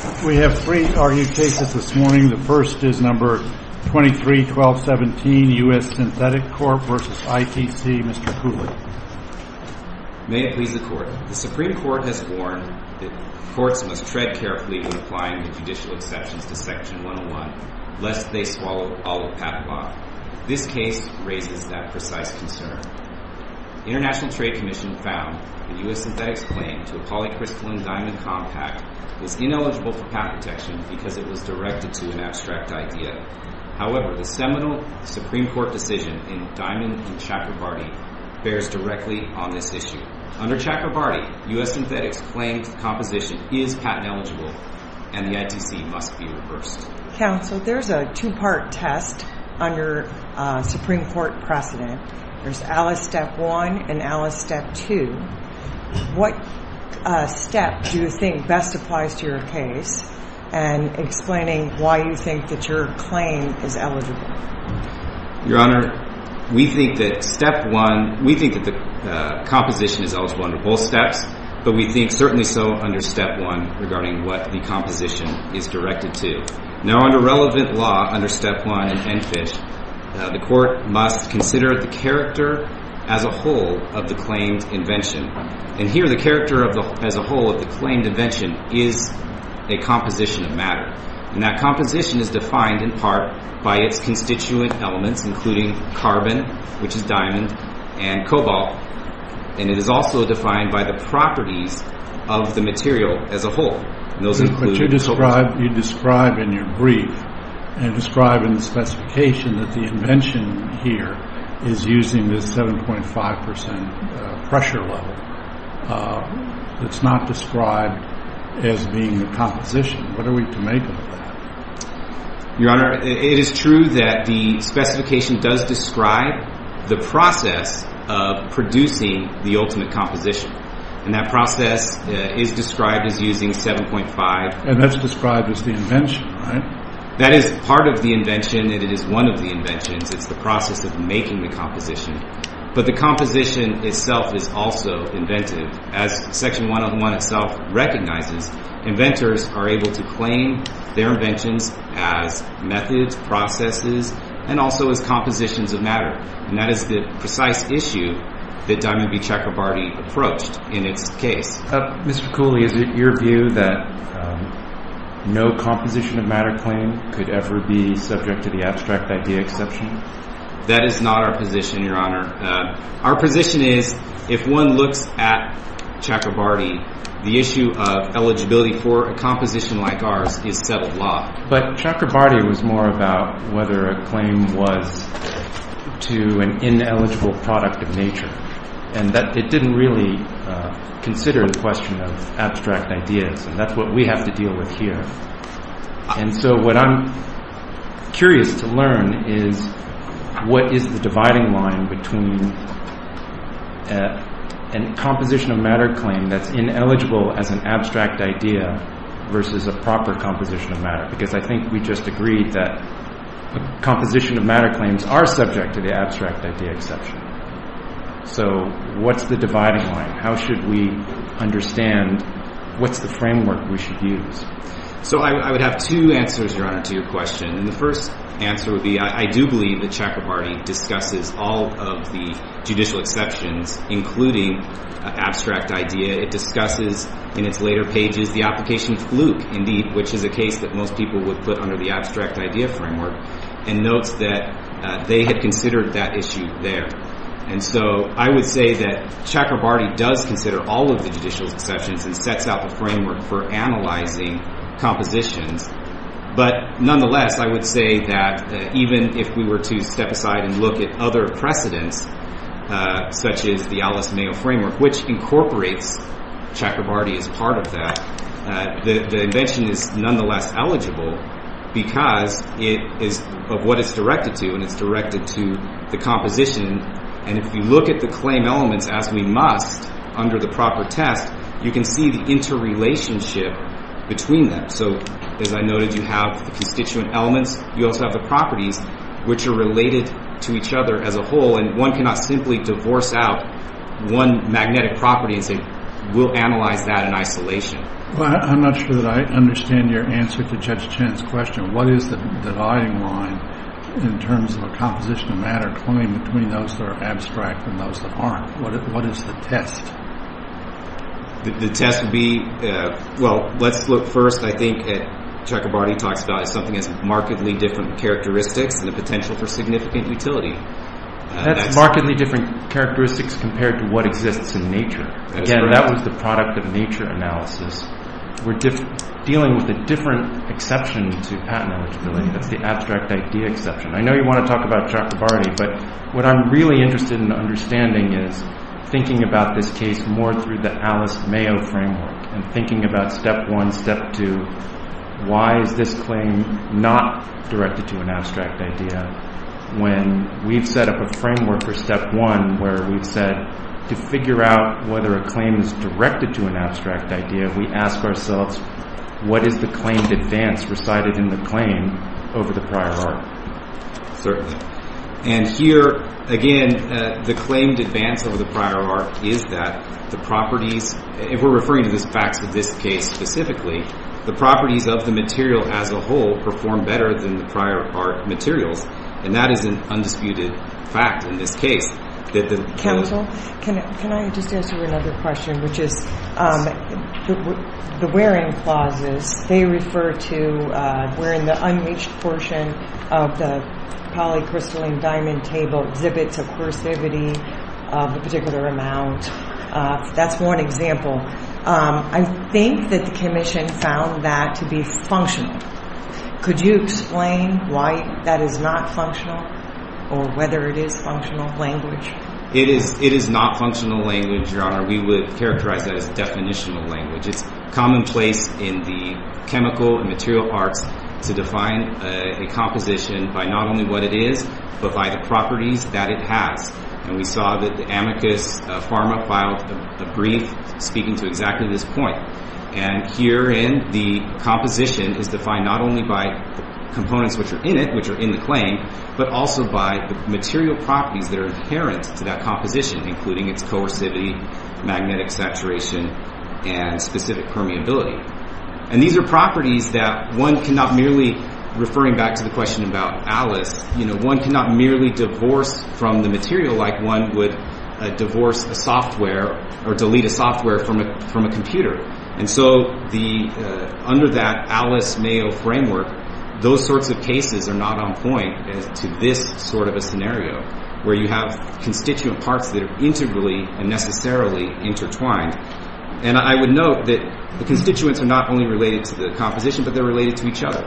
The Supreme Court has warned that courts must tread carefully when applying the judicial exceptions to Section 101, lest they swallow all of PAP law. This case raises that precise concern. The International Trade Commission found in U.S. Synthetic's claim to a polycrystalline diamond compact was ineligible for patent detection because it was directed to an abstract idea. However, the seminal Supreme Court decision in Diamond v. Chakrabarty bears directly on this issue. Under Chakrabarty, U.S. Synthetic's claim to the composition is patent eligible and the ITC must be reversed. Counsel, there's a two-part test under Supreme Court precedent. There's Alice Step 1 and Alice Step 2. What step do you think best applies to your case in explaining why you think that your claim is eligible? Your Honor, we think that the composition is eligible under both steps, but we think certainly so under Step 1 regarding what the composition is directed to. Now, under relevant law under Step 1 in Enfish, the Court must consider the character as a whole of the claimed invention. And here, the character as a whole of the claimed invention is a composition of matter. And that composition is defined in part by its constituent elements, including carbon, which is diamond, and cobalt. And it is also defined by the properties of the material as a whole. But you describe in your brief and describe in the specification that the invention here is using this 7.5% pressure level. It's not described as being the composition. What are we to make of that? Your Honor, it is true that the specification does describe the process of producing the ultimate composition. And that process is described as using 7.5%. And that's described as the invention, right? That is part of the invention, and it is one of the inventions. It's the process of making the composition. But the composition itself is also inventive. As Section 101 itself recognizes, inventors are able to claim their inventions as methods, processes, and also as compositions of matter. And that is the precise issue that Diamond v. Chakrabarty approached in its case. Mr. Cooley, is it your view that no composition of matter claim could ever be subject to the abstract idea exception? That is not our position, Your Honor. Our position is, if one looks at Chakrabarty, the issue of eligibility for a composition like ours is settled law. But Chakrabarty was more about whether a claim was to an ineligible product of nature. And it didn't really consider the question of abstract ideas. And that's what we have to deal with here. And so what I'm curious to learn is, what is the dividing line between a composition of matter claim that's ineligible as an abstract idea versus a proper composition of matter? Because I think we just agreed that a composition of matter claims are subject to the abstract idea exception. So what's the dividing line? How should we understand what's the framework we should use? So I would have two answers, Your Honor, to your question. And the first answer would be I do believe that Chakrabarty discusses all of the judicial exceptions, including abstract idea. It discusses in its later pages the application of fluke, indeed, which is the case that most people would put under the abstract idea framework, and notes that they had considered that issue there. And so I would say that Chakrabarty does consider all of the judicial exceptions and sets out the framework for analyzing compositions. But nonetheless, I would say that even if we were to step aside and look at other precedents, such as the Alice Mayo framework, which incorporates Chakrabarty as part of that, the invention is nonetheless eligible because it is of what it's directed to, and it's directed to the composition. And if you look at the claim elements, as we must under the proper test, you can see the interrelationship between them. So as I noted, you have the constituent elements. You also have the properties, which are related to each other as a whole. And one cannot simply divorce out one magnetic property and say, we'll analyze that in isolation. Well, I'm not sure that I understand your answer to Judge Chen's question. What is the dividing line in terms of a compositional matter claim between those that are abstract and those that aren't? What is the test? The test would be, well, let's look first, I think, at Chakrabarty talks about something that's markedly different characteristics and the potential for significant utility. That's markedly different characteristics compared to what exists in nature. Again, that was the product of nature analysis. We're dealing with a different exception to patent eligibility. That's the abstract idea exception. I know you want to talk about Chakrabarty, but what I'm really interested in understanding is thinking about this case more through the Alice Mayo framework and thinking about step one, step two, why is this claim not directed to an abstract idea when we've set up a framework for step one, where we've said to figure out whether a claim is directed to an abstract idea, we ask ourselves, what is the claimed advance recited in the claim over the prior art? Certainly. And here, again, the claimed advance over the prior art is that the properties, if we're referring to the facts of this case specifically, the properties of the material as a whole perform better than the prior art materials. And that is an undisputed fact in this case. Counsel, can I just ask you another question, which is the wearing clauses, they refer to wearing the unmatched portion of the polycrystalline diamond table exhibits a cursivity of a particular amount. That's one example. I think that the commission found that to be functional. Could you explain why that is not functional or whether it is functional language? It is not functional language, Your Honor. We would characterize that as definitional language. It's commonplace in the chemical and material arts to define a composition by not only what it is, but by the properties that it has. And we saw that the amicus pharma filed a brief speaking to exactly this point. And herein, the composition is defined not only by components which are in it, which are in the claim, but also by material properties that are inherent to that composition, including its coercivity, magnetic saturation, and specific permeability. And these are properties that one cannot merely, referring back to the question about Alice, one cannot merely divorce from the material like one would divorce a software from a computer. And so under that Alice-Mayo framework, those sorts of cases are not on point as to this sort of a scenario where you have constituent parts that are integrally and necessarily intertwined. And I would note that the constituents are not only related to the composition, but they're related to each other.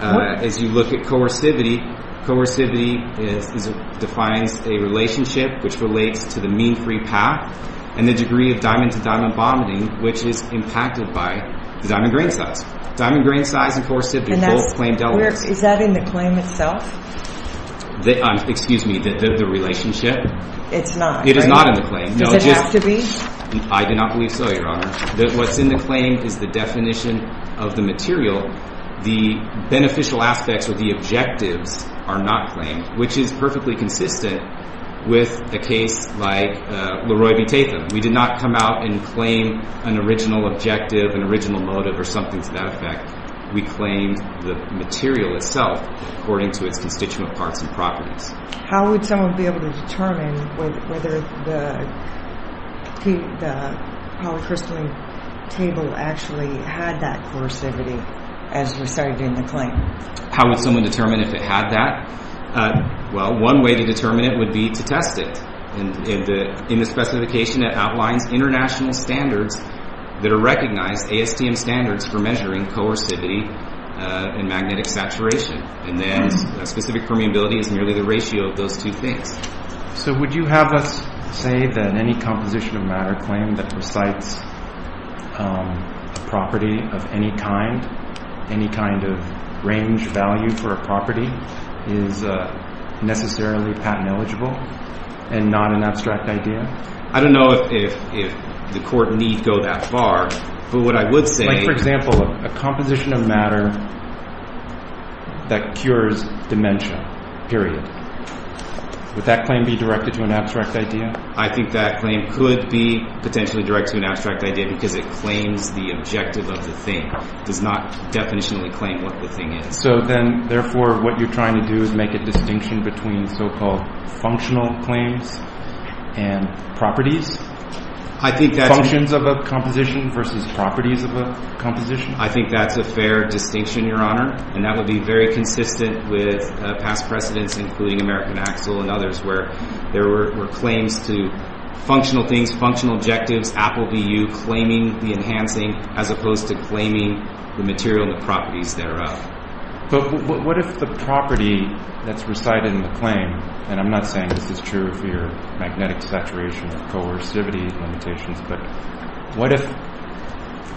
As you look at coercivity, coercivity defines a relationship which relates to the mean-free path and the degree of diamond-to-diamond bonding, which is impacted by the diamond grain size. Diamond grain size and coercivity both claim Delaware. And is that in the claim itself? Excuse me, the relationship? It's not, right? It is not in the claim. Does it have to be? I do not believe so, Your Honor. What's in the claim is the definition of the material. The beneficial aspects or the objectives are not claimed, which is perfectly consistent with a case like Leroy v. Tatham. We did not come out and claim an original objective, an original motive, or something to that effect. We claimed the material itself according to its constituent parts and properties. How would someone be able to determine whether the polycrystalline table actually had that as we started doing the claim? How would someone determine if it had that? Well, one way to determine it would be to test it. In the specification, it outlines international standards that are recognized, ASTM standards, for measuring coercivity and magnetic saturation. And then a specific permeability is nearly the ratio of those two things. So would you have us say that any composition of matter claim that recites a property of any kind, any kind of range value for a property, is necessarily patent eligible and not an abstract idea? I don't know if the court need go that far, but what I would say... Like, for example, a composition of matter that cures dementia, period. Would that claim be directed to an abstract idea? I think that claim could be potentially directed to an abstract idea because it claims the objective of the thing. It does not definitionally claim what the thing is. So then, therefore, what you're trying to do is make a distinction between so-called functional claims and properties? I think that's... Functions of a composition versus properties of a composition? I think that's a fair distinction, Your Honor, and that would be very consistent with past precedents, including American Axel and others, where there were claims to functional things, functional objectives, Apple, VU, claiming the enhancing, as opposed to claiming the material and the properties thereof. But what if the property that's recited in the claim, and I'm not saying this is true for your magnetic saturation or coercivity limitations, but what if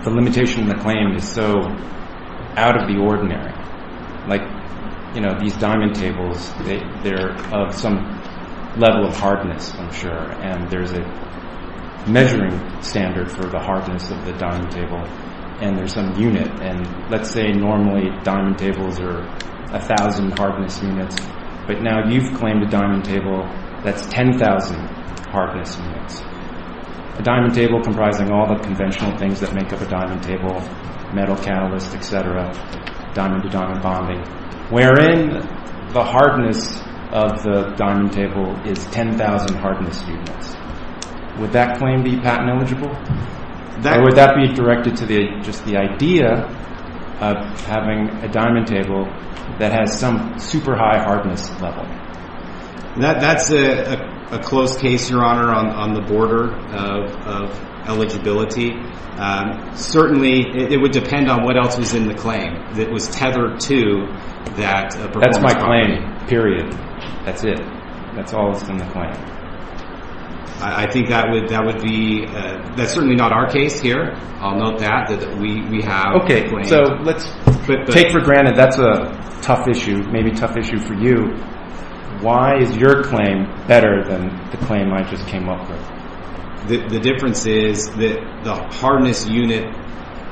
the limitation in the claim is so out of the ordinary? Like, you know, these diamond tables, they're of some level of hardness, I'm sure, and there's a measuring standard for the hardness of the diamond table, and there's some unit, and let's say normally diamond tables are 1,000 hardness units, but now you've claimed a diamond table that's 10,000 hardness units. A diamond table comprising all the conventional things that make up a diamond table, metal catalyst, et cetera, diamond-to-diamond bonding, wherein the hardness of the diamond table is 10,000 hardness units. Would that claim be patent eligible? Or would that be directed to just the idea of having a diamond table that has some super high hardness level? That's a close case, Your Honor, on the border of eligibility. Certainly, it would depend on what else was in the claim that was tethered to that. That's my claim, period. That's it. That's all that's in the claim. I think that would be, that's certainly not our case here. I'll note that, that we have a claim. Okay, so let's take for granted that's a tough issue, maybe tough issue for you. Why is your claim better than the claim I just came up with? The difference is that the hardness unit,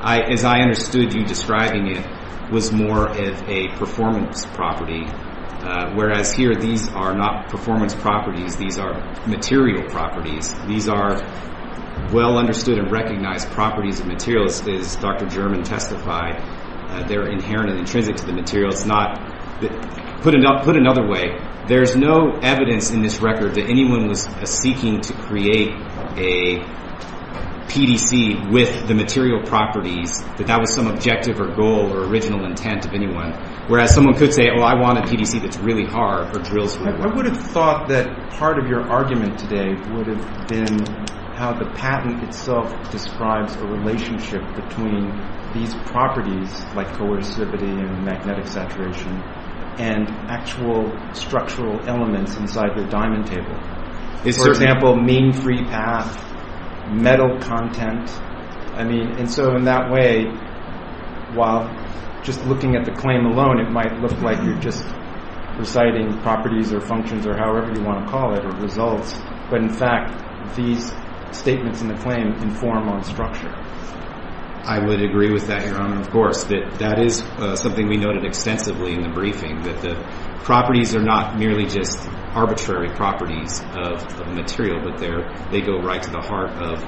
as I understood you describing it, was more of a performance property, whereas here these are not performance properties. These are material properties. These are well-understood and recognized properties of materials, as Dr. German testified. They're inherent and intrinsic to the material. It's not, put another way, there's no evidence in this record that anyone was seeking to create a PDC with the material properties, that that was some objective or goal or original intent of anyone, whereas someone could say, oh, I want a PDC that's really hard or drills really well. I would have thought that part of your argument today would have been how the patent itself describes the relationship between these properties, like coercivity and magnetic saturation, and actual structural elements inside the diamond table. For example, mean free path, metal content. And so in that way, while just looking at the claim alone, it might look like you're just reciting properties or functions or however you want to call it, or results, but in fact these statements in the claim inform on structure. I would agree with that, Your Honor, of course. That is something we noted extensively in the briefing, that the properties are not merely just arbitrary properties of the material, but they go right to the heart of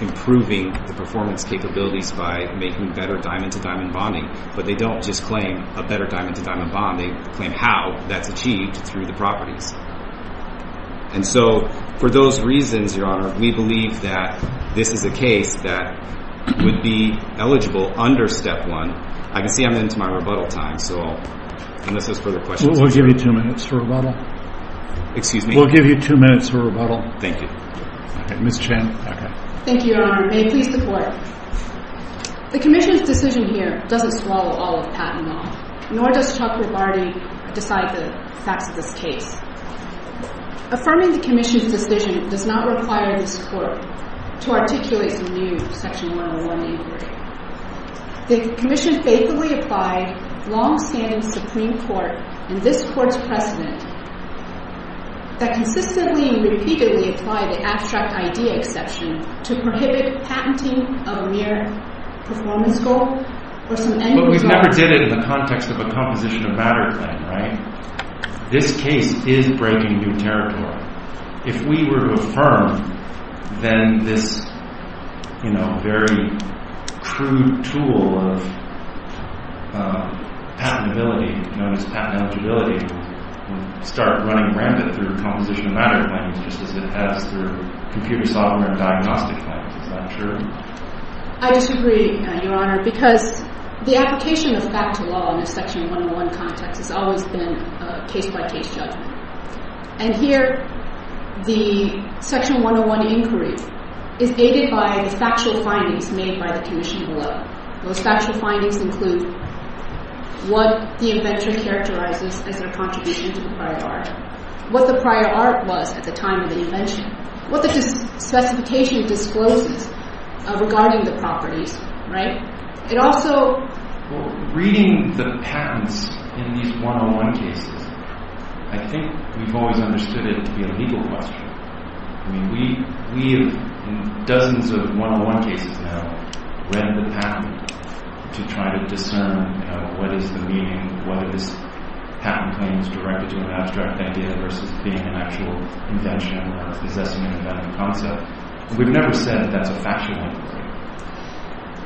improving the performance capabilities by making better diamond-to-diamond bonding. But they don't just claim a better diamond-to-diamond bonding. They claim how that's achieved through the properties. And so for those reasons, Your Honor, we believe that this is a case that would be eligible under Step 1. I can see I'm into my rebuttal time, so unless there's further questions... We'll give you two minutes for rebuttal. Excuse me? We'll give you two minutes for rebuttal. Thank you. Ms. Chen. Thank you, Your Honor. May it please the Court. The Commission's decision here doesn't swallow all of patent law, nor does Chuck Ribardi decide the facts of this case. Affirming the Commission's decision does not require this Court to articulate some new Section 101 inquiry. The Commission faithfully applied long-standing Supreme Court and this Court's precedent that consistently and repeatedly apply the abstract idea exception to prohibit patenting a mere performance goal or some end result... But we've never did it in the context of a composition of matter claim, right? This case is breaking new territory. If we were to affirm, then this very crude tool of patentability, known as patent eligibility, would start running rampant through composition of matter claims just as it has through computer software and diagnostic claims. Is that true? I disagree, Your Honor, because the application of fact to law in a Section 101 context has always been a case-by-case judgment. And here, the Section 101 inquiry is aided by the factual findings made by the Commission below. Those factual findings include what the inventor characterizes as their contribution to the prior art, what the prior art was at the time of the invention, what the specification discloses regarding the properties, right? It also... Reading the patents in these 101 cases, I think we've always understood it to be a legal question. I mean, we have, in dozens of 101 cases now, read the patent to try to discern, you know, what is the meaning, whether this patent claim is directed to an abstract idea versus being an actual invention or possessing an invented concept. We've never said that that's a factual inquiry.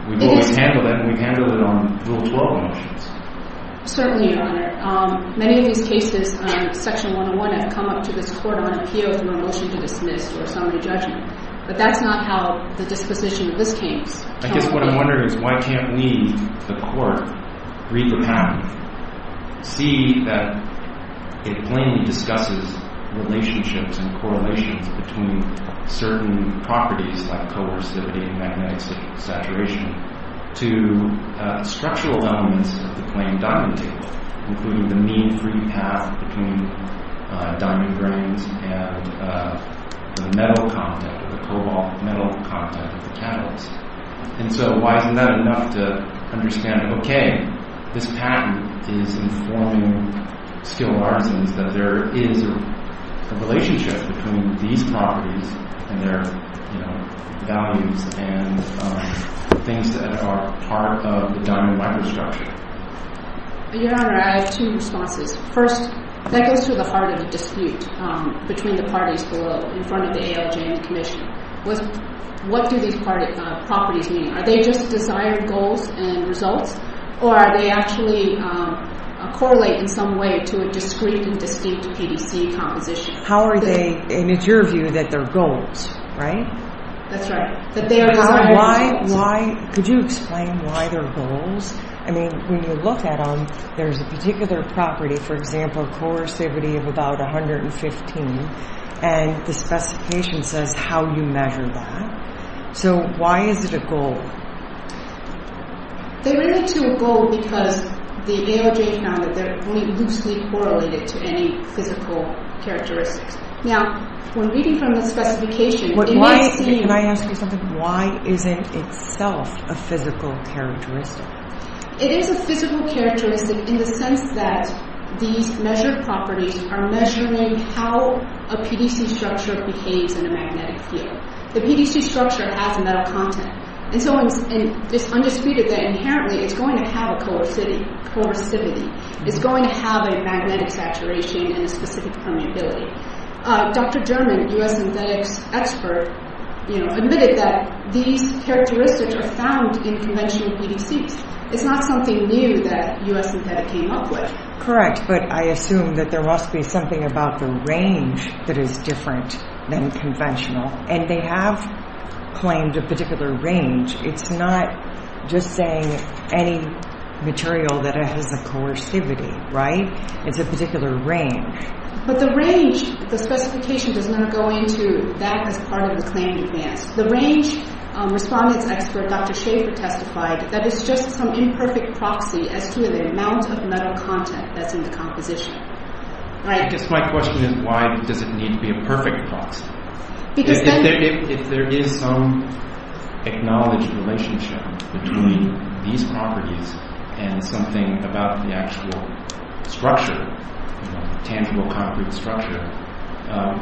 We've always handled it, and we've handled it on Rule 12 motions. Certainly, Your Honor. Many of these cases on Section 101 have come up to this Court on appeal from a motion to dismiss or summary judgment. But that's not how the disposition of this case... I guess what I'm wondering is why can't we, the Court, read the patent, see that it plainly discusses relationships and correlations between certain properties like coercivity and magnetic saturation to structural elements of the plain diamond table, including the mean free path between diamond grains and the metal contact, the cobalt metal contact of the catalyst. And so why isn't that enough to understand, okay, this patent is informing skilled artisans that there is a relationship between these properties and their, you know, values and the things that are part of the diamond microstructure? Your Honor, I have two responses. First, that goes to the heart of the dispute between the parties below, in front of the ALJ and the Commission. What do these properties mean? Are they just desired goals and results? Or are they actually correlated in some way to a discrete and distinct PDC composition? How are they, and it's your view that they're goals, right? That's right. Why, could you explain why they're goals? I mean, when you look at them, there's a particular property, for example, coercivity of about 115, and the specification says how you measure that. So why is it a goal? They relate to a goal because the ALJ found that they're only loosely correlated to any physical characteristics. Now, when reading from the specification, it may seem... Can I ask you something? Why isn't itself a physical characteristic? It is a physical characteristic in the sense that these measured properties are measuring how a PDC structure behaves in a magnetic field. The PDC structure has a metal content. And so it's undisputed that inherently it's going to have a coercivity. It's going to have a magnetic saturation and a specific permeability. Dr. German, a U.S. synthetics expert, admitted that these characteristics are found in conventional PDCs. It's not something new that U.S. synthetic came up with. Correct, but I assume that there must be something about the range that is different than conventional. And they have claimed a particular range. It's not just saying any material that has a coercivity, right? It's a particular range. But the range, the specification does not go into that as part of the claim to advance. The range respondents expert, Dr. Schaefer, testified that it's just some imperfect proxy as to the amount of metal content that's in the composition. I guess my question is why does it need to be a perfect proxy? If there is some acknowledged relationship between these properties and something about the actual structure, tangible concrete structure,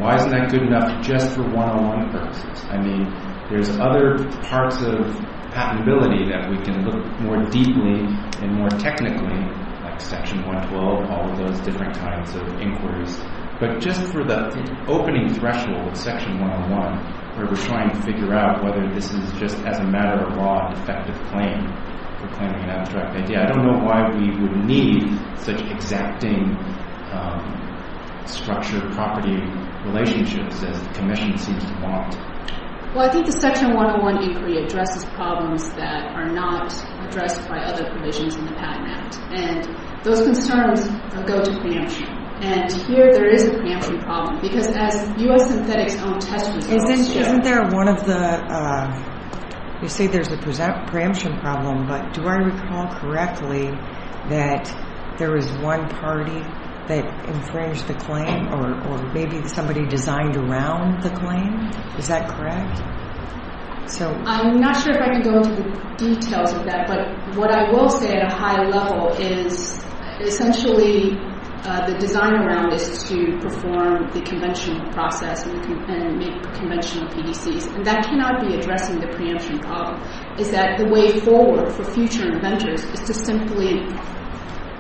why isn't that good enough just for one-on-one purposes? I mean, there's other parts of patentability that we can look more deeply and more technically, like section 112, all of those different kinds of inquiries. But just for the opening threshold of section one-on-one, where we're trying to figure out whether this is just as a matter of law an effective claim for claiming an abstract idea, I don't know why we would need such exacting structure-property relationships as the Commission seems to want. Well, I think the section one-on-one inquiry addresses problems that are not addressed by other provisions in the Patent Act. And those concerns go to preemption. And here there is a preemption problem because as U.S. Synthetic's own test results show... Isn't there one of the... You say there's a preemption problem, but do I recall correctly that there was one party that infringed the claim or maybe somebody designed around the claim? Is that correct? I'm not sure if I can go into the details of that, but what I will say at a higher level is essentially the design around is to perform the conventional process and make conventional PDCs. And that cannot be addressing the preemption problem. It's that the way forward for future inventors is to simply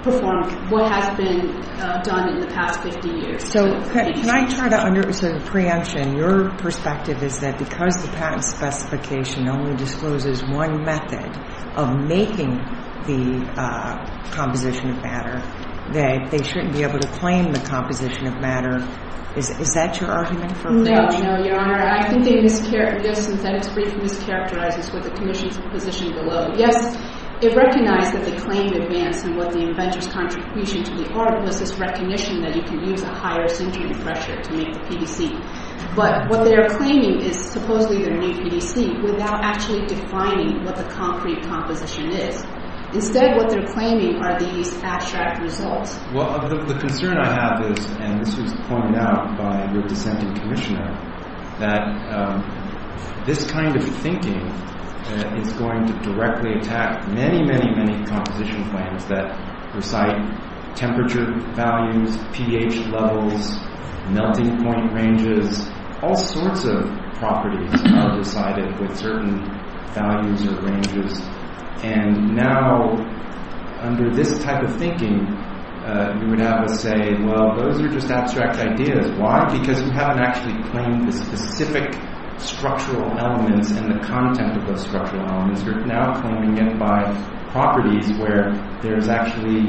perform what has been done in the past 50 years. So can I try to under... So the preemption, your perspective is that because the patent specification only discloses one method of making the composition of matter, that they shouldn't be able to claim the composition of matter. Is that your argument? No, no, Your Honor. I think the U.S. Synthetic's brief mischaracterizes what the commission's position below. Yes, it recognized that they claimed advance and what the inventor's contribution to the art was this recognition that you can use a higher syndrome pressure to make the PDC. But what they are claiming is supposedly their new PDC without actually defining what the concrete composition is. Instead, what they're claiming are these abstract results. Well, the concern I have is, and this was pointed out by your dissenting commissioner, that this kind of thinking is going to directly attack many, many, many composition plans that recite temperature values, pH levels, melting point ranges, all sorts of properties are decided with certain values or ranges. And now, under this type of thinking, you would have us say, well, those are just abstract ideas. Why? Because you haven't actually claimed the specific structural elements and the content of those structural elements. You're now claiming it by properties where there's actually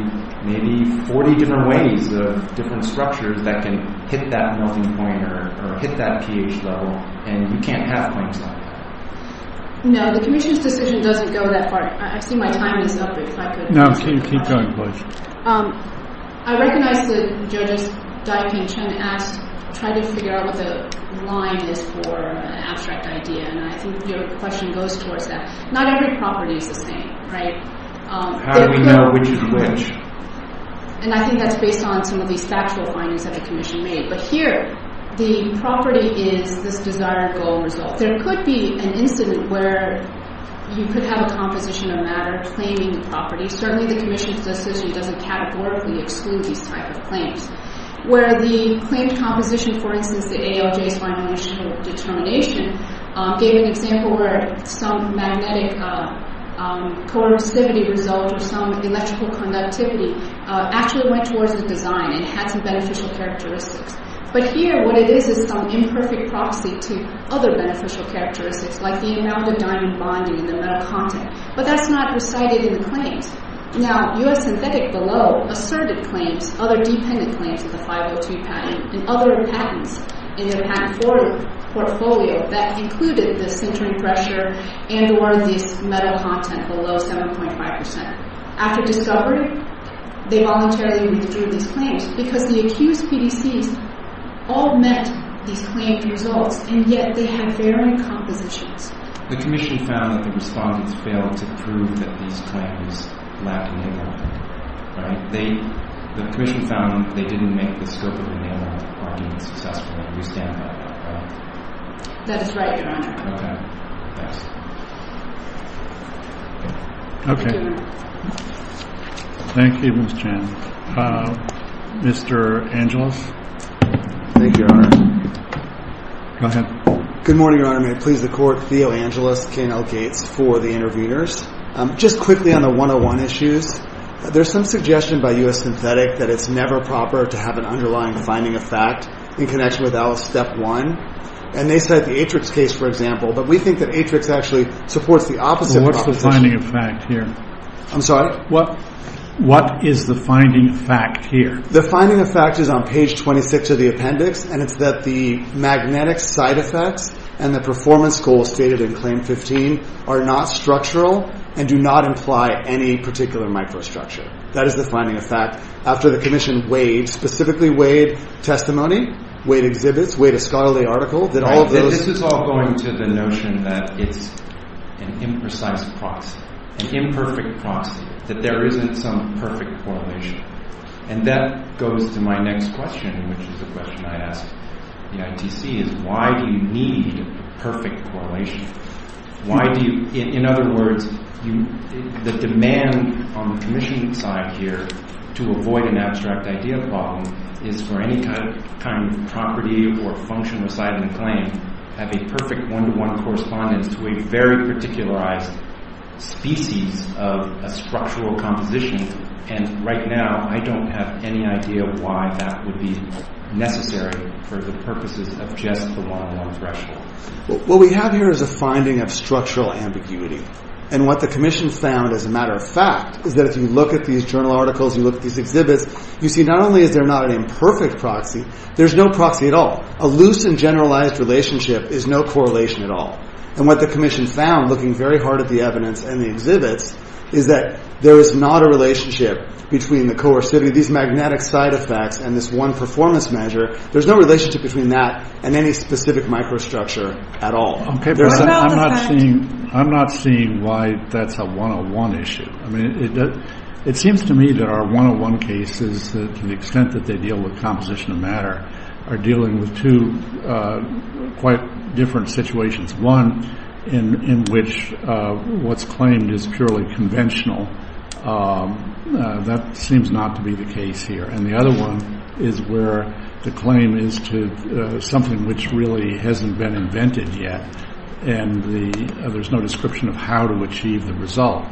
maybe 40 different ways of different structures that can hit that melting point or hit that pH level. And you can't have claims like that. No, the commission's decision doesn't go that far. I see my time is up. No, keep going, please. I recognize that Judge Dai-Ping Chen tried to figure out what the line is for an abstract idea. And I think your question goes towards that. Not every property is the same, right? How do we know which is which? And I think that's based on some of these factual findings that the commission made. But here, the property is this desired goal result. There could be an incident where you could have a composition of matter claiming the property. Certainly, the commission's decision doesn't categorically exclude these type of claims. Where the claimed composition, for instance, the ALJ's final initial determination, gave an example where some magnetic coercivity result or some electrical conductivity actually went towards the design and had some beneficial characteristics. But here, what it is is some imperfect proxy to other beneficial characteristics like the amalgam-diamond bonding and the metal content. But that's not recited in the claims. Now, U.S. Synthetic below asserted claims, other dependent claims of the 502 patent and other patents in their patent portfolio that included the sintering pressure and or this metal content below 7.5%. After discovery, they voluntarily withdrew these claims because the accused PDCs all met these claimed results and yet they had varying compositions. The commission found that the respondents failed to prove that these claims lacked enamel. The commission found that they didn't make a discovery of enamel. We stand by that. That is right, Your Honor. Okay. Thank you, Ms. Chan. Mr. Angelus? Thank you, Your Honor. Good morning, Your Honor. May it please the Court, Theo Angelus, I'd like to make a few comments about Alice K. Nell Gates for the interveners. Just quickly on the 101 issues, there's some suggestion by U.S. Synthetic that it's never proper to have an underlying finding of fact in connection with Alice Step 1. And they cite the Atrix case, for example, but we think that Atrix actually supports the opposite proposition. What's the finding of fact here? The finding of fact is on page 26 of the appendix and it's that the magnetic side effects and the performance goals stated in Claim 15 are not structural and do not imply any particular microstructure. That is the finding of fact after the commission weighed, specifically weighed testimony, weighed exhibits, weighed a scholarly article, that all of those... This is all going to the notion that it's an imprecise proxy, an imperfect proxy, that there isn't some perfect correlation. And that goes to my next question, which is the question I asked the ITC, is why do you need perfect correlation? In other words, the demand on the commission side here to avoid an abstract idea problem is for any kind of property or function aside in a claim to have a perfect one-to-one correspondence to a very particularized species of a structural composition. And right now I don't have any idea why that would be necessary for the purposes of just the one-to-one threshold. What we have here is a finding of structural ambiguity and what the commission found as a matter of fact is that if you look at these journal articles, you look at these exhibits, you see not only is there not an imperfect proxy, there's no proxy at all. A loose and generalized relationship is no correlation at all. And what the commission found, looking very hard at the evidence and the exhibits, is that there is not a relationship between these magnetic side effects and this one performance measure. There's no relationship between that and any specific microstructure at all. I'm not seeing why that's a one-to-one issue. It seems to me that our one-to-one cases to the extent that they deal with composition of matter are dealing with two quite different situations. One in which what's claimed is purely conventional. That seems not to be the case here. And the other one is where the claim is to something which really hasn't been invented yet and there's no description of how to achieve the result.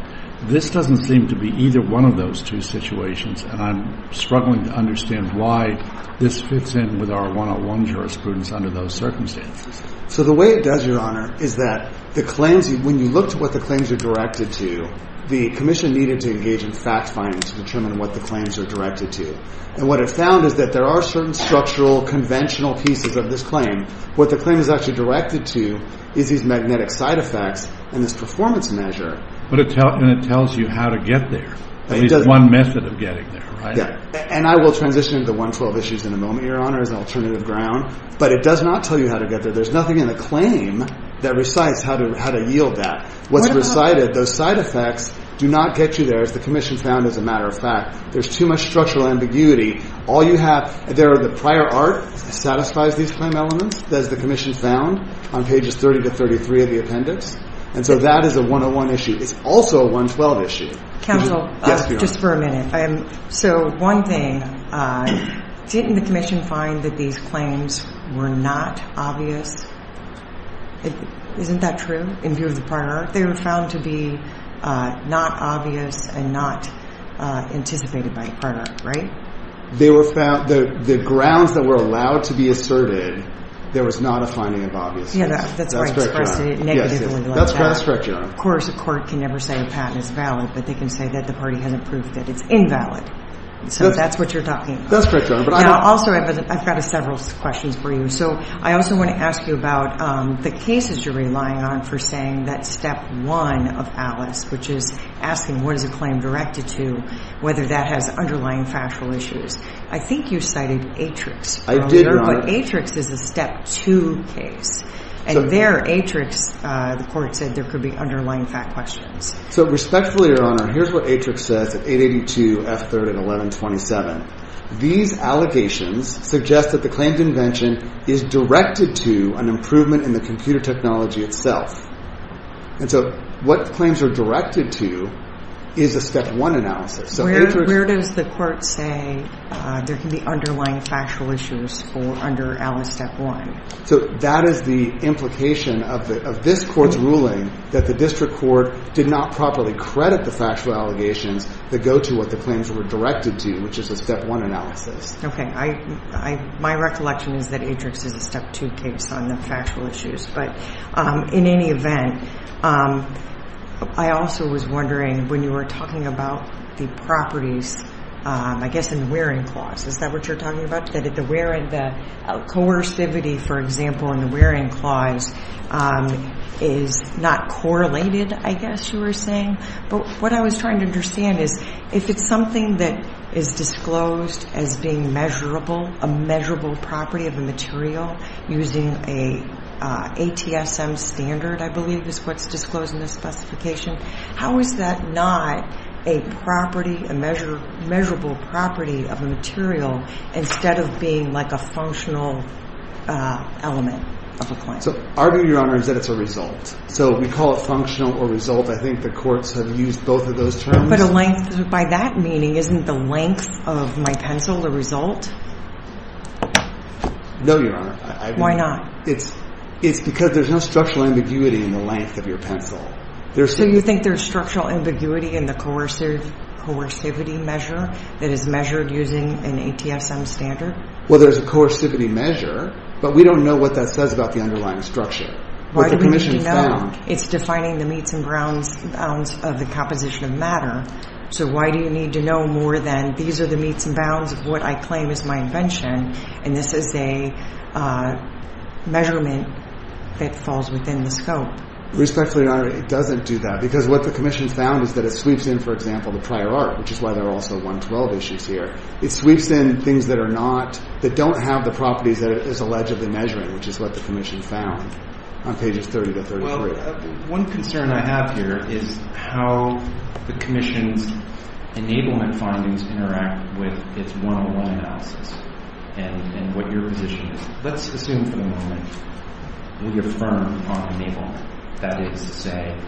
This doesn't seem to be either one of those two situations and I'm struggling to understand why this fits in with our one-to-one jurisprudence under those circumstances. So the way it does, Your Honor, is that when you look at what the claims are directed to, the commission needed to engage in fact-finding to determine what the claims are directed to. And what it found is that there are certain structural, conventional pieces of this claim. What the claim is actually directed to is these magnetic side effects and this performance measure. And it tells you how to get there. At least one method of getting there, right? And I will transition into 112 issues in a moment, Your Honor, as an alternative ground. But it does not tell you how to get there. There's nothing in the claim that recites how to yield that. What's recited, those side effects, do not get you there as the commission found as a matter of fact. There's too much structural ambiguity. The prior art satisfies these claim elements as the commission found on pages 30 to 33 of the appendix. And so that is a one-to-one issue. It's also a 112 issue. Counsel, just for a minute. So one thing. Didn't the commission find that these claims were not obvious? Isn't that true in view of the prior art? They were found to be not obvious and not anticipated by prior art, right? They were found... The grounds that were allowed to be asserted, there was not a finding of obviousness. That's correct, Your Honor. Of course, a court can never say a patent is valid, but they can say that the party hasn't proved that it's invalid. So that's what you're talking about. I've got several questions for you. I also want to ask you about the cases you're relying on for saying that step one of Alice, which is asking what is a claim directed to, whether that has underlying factual issues. I think you cited Atrix earlier. But Atrix is a step two case. And there, Atrix, the court said, there could be underlying fact questions. So respectfully, Your Honor, here's what Atrix says at 882 F. 3rd and 1127. These allegations suggest that the claimed invention is directed to an improvement in the computer technology itself. And so what claims are directed to is a step one analysis. Where does the court say there can be underlying factual issues under Alice step one? So that is the implication of this court's ruling that the district court did not properly credit the factual allegations that go to what the claims were directed to, which is a step one analysis. My recollection is that Atrix is a step two case on the factual issues. But in any event, I also was wondering when you were talking about the properties I guess in the wearing clause. Is that what you're talking about? That the coercivity, for example, in the wearing clause is not correlated, I guess you were saying? But what I was trying to understand is if it's something that is disclosed as being measurable, a measurable property of a material using a ATSM standard I believe is what's disclosed in this specification. How is that not a property, a measurable property of a material instead of being like a functional element of a claim? So our view, Your Honor, is that it's a result. So we call it functional or result. I think the courts have used both of those terms. By that meaning, isn't the length of my pencil a result? No, Your Honor. It's because there's no structural ambiguity in the length of your pencil. So you think there's structural ambiguity in the coercivity measure that is measured using an ATSM standard? Well, there's a coercivity measure, but we don't know what that says about the underlying structure. It's defining the meets and bounds of the composition of matter. So why do you need to know more than these are the meets and bounds of what I claim is my invention and this is a measurement that falls within the scope? Respectfully, Your Honor, it doesn't do that because what the Commission found is that it sweeps in, for example, the prior art, which is why there are also 112 issues here. It sweeps in things that don't have the properties that it is allegedly measuring, which is what the Commission found on pages 30 to 33. One concern I have here is how the Commission's enablement findings interact with its 101 analysis and what your position is. Let's assume for the moment we affirm on enablement. That is to say,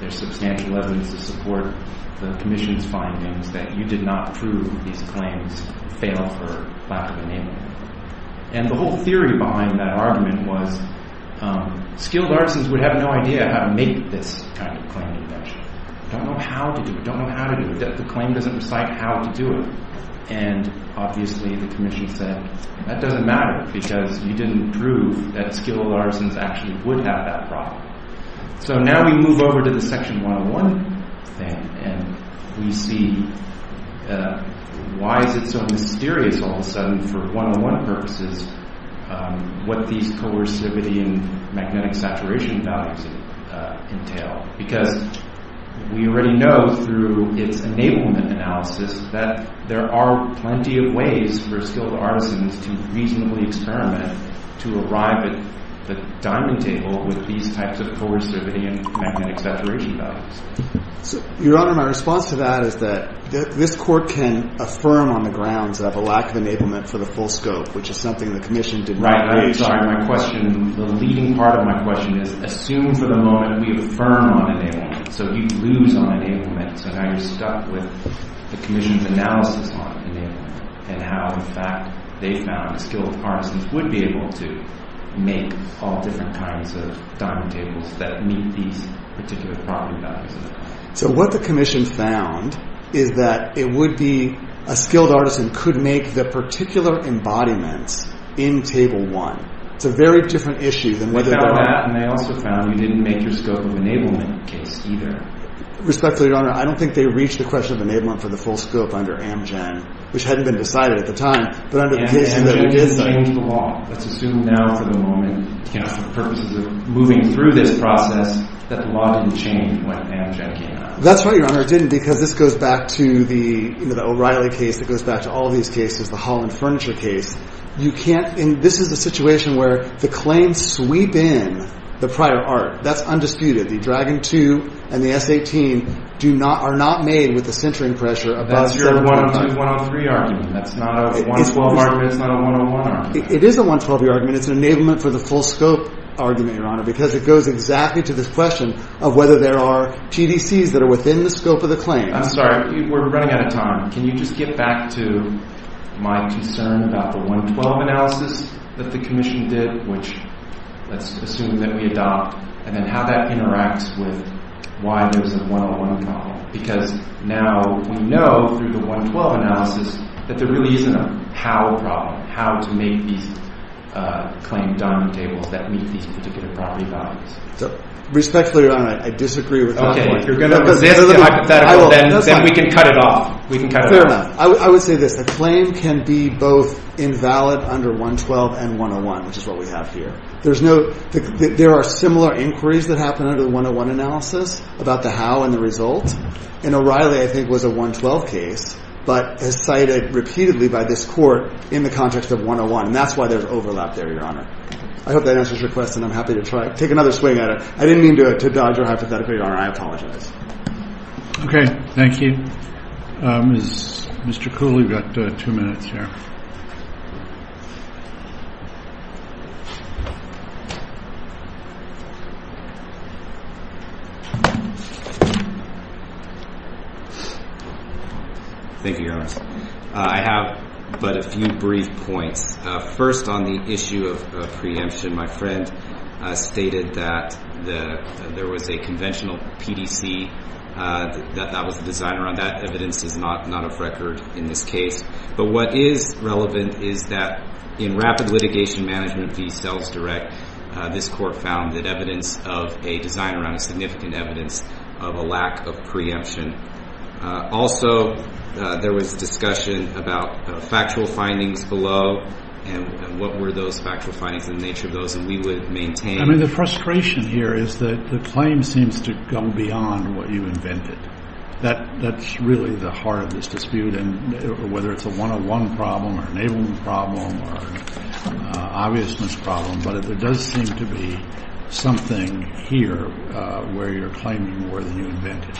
there's substantial evidence to support the Commission's findings that you did not prove these claims fail for lack of enablement. The whole theory behind that argument was skilled artisans would have no idea how to make this kind of claim invention. They don't know how to do it. The claim doesn't recite how to do it. Obviously, the Commission said that doesn't matter because you didn't prove that skilled artisans actually would have that problem. Now we move over to the section 101 and we see why is it so mysterious all of a sudden for 101 purposes what these coercivity and magnetic saturation values entail because we already know through its enablement analysis that there are plenty of ways for skilled artisans to reasonably experiment to arrive at the diamond table with these types of coercivity and magnetic saturation values. Your Honor, my response to that is that this Court can affirm on the grounds of a lack of enablement for the full scope which is something the Commission did not raise. The leading part of my question is assume for the moment we affirm on enablement so you lose on enablement so now you're stuck with the Commission's analysis on enablement and how in fact they found skilled artisans would be able to make all different kinds of diamond tables that meet these particular property values. So what the Commission found is that a skilled artisan could make the particular embodiments in Table 1. It's a very different issue. Without that, they also found you didn't make your scope of enablement case either. I don't think they reached the question of enablement for the full scope under Amgen which hadn't been decided at the time. Let's assume now for the moment that the law didn't change when Amgen came out. That's right, Your Honor, it didn't because this goes back to the O'Reilly case it goes back to all these cases, the Holland Furniture case. This is a situation where the claims sweep in the prior art. That's undisputed. The Dragon 2 and the S18 are not made with the centering pressure above 7.5. That's your 112-103 argument. It is a 112 argument. It's an enablement for the full scope argument, Your Honor, because it goes exactly to this question of whether there are TDCs that are within the scope of the claim. I'm sorry, we're running out of time. Can you just get back to my concern about the 112 analysis that the Commission did which let's assume that we adopt and then how that interacts with why there's a 101 problem because now we know through the 112 analysis that there really isn't a how problem how to make these claim diamond tables that meet these particular property values. Respectfully, Your Honor, I disagree with that point. Then we can cut it off. I would say this. The claim can be both invalid under 112 and 101, which is what we have here. There are similar inquiries that happen under the 101 analysis about the how and the result and O'Reilly, I think, was a 112 case but is cited repeatedly by this Court in the context of 101 and that's why there's overlap there, Your Honor. I hope that answers your question. I'm happy to take another swing at it. I didn't mean to dodge your hypothetical, Your Honor. I apologize. Okay. Thank you. Mr. Kuhl, you've got two minutes here. Thank you, Your Honor. I have but a few brief points. First, on the issue of preemption, my friend stated that there was a conventional PDC that was designed around that. Evidence is not of record in this case. But what is relevant is that in Rapid Litigation Management v. Cells Direct, this Court found that evidence of a design around a significant evidence of a lack of preemption. Also, there was discussion about factual findings below and what were those factual findings and the nature of those and we would maintain I mean, the frustration here is that the claim seems to go beyond what you invented. That's really the heart of this dispute and whether it's a 101 problem or an A1 problem or an obviousness problem, but there does seem to be something here where you're claiming more than you invented.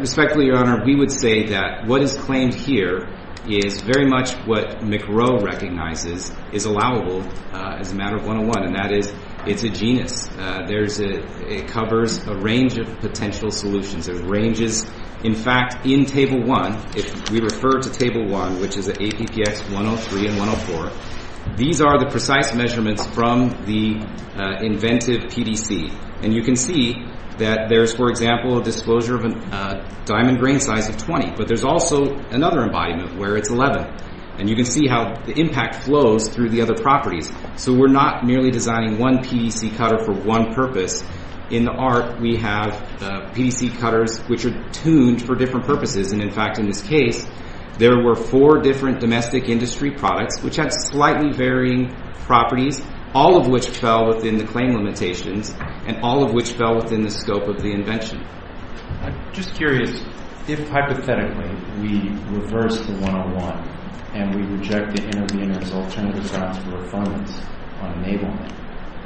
Respectfully, Your Honor, we would say that what is claimed here is very much what McRow recognizes is allowable as a matter of 101 and that is it's a genus. It covers a range of potential solutions. It ranges, in fact, in Table 1 if we refer to Table 1, which is APPX 103 and 104. These are the precise measurements from the inventive PDC. You can see that there's, for example, a disclosure of a diamond grain size of 20, but there's also another embodiment where it's 11. You can see how the impact flows through the other properties. We're not merely designing one PDC cutter for one purpose. In the art, we have PDC cutters which are tuned for different purposes. In fact, in this case, there were four different domestic industry products which had slightly varying properties, all of which fell within the claim limitations and all of which fell within the scope of the invention. I'm just curious if, hypothetically, we reverse the 101 and we reject the intervenor's alternative grounds for affirmance on enablement,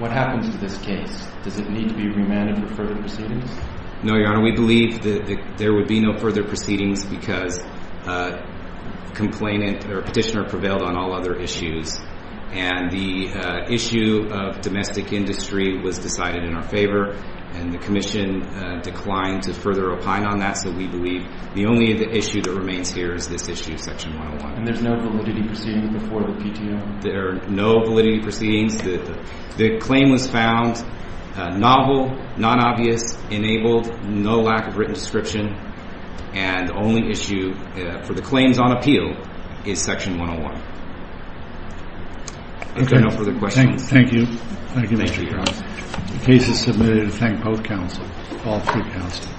what happens to this case? Does it need to be remanded for further proceedings? No, Your Honor. We believe that there would be no further proceedings because the petitioner prevailed on all other issues, and the issue of domestic industry was decided in our favor and the Commission declined to further opine on that, so we believe the only issue that remains here is this issue of Section 101. And there's no validity proceedings before the PTO? There are no validity proceedings. The claim was found novel, non-obvious, enabled, no lack of written description, and the only issue for the claims on appeal is Section 101. If there are no further questions... Thank you. Thank you, Your Honor. The case is submitted. I thank both counsel, all three counsel.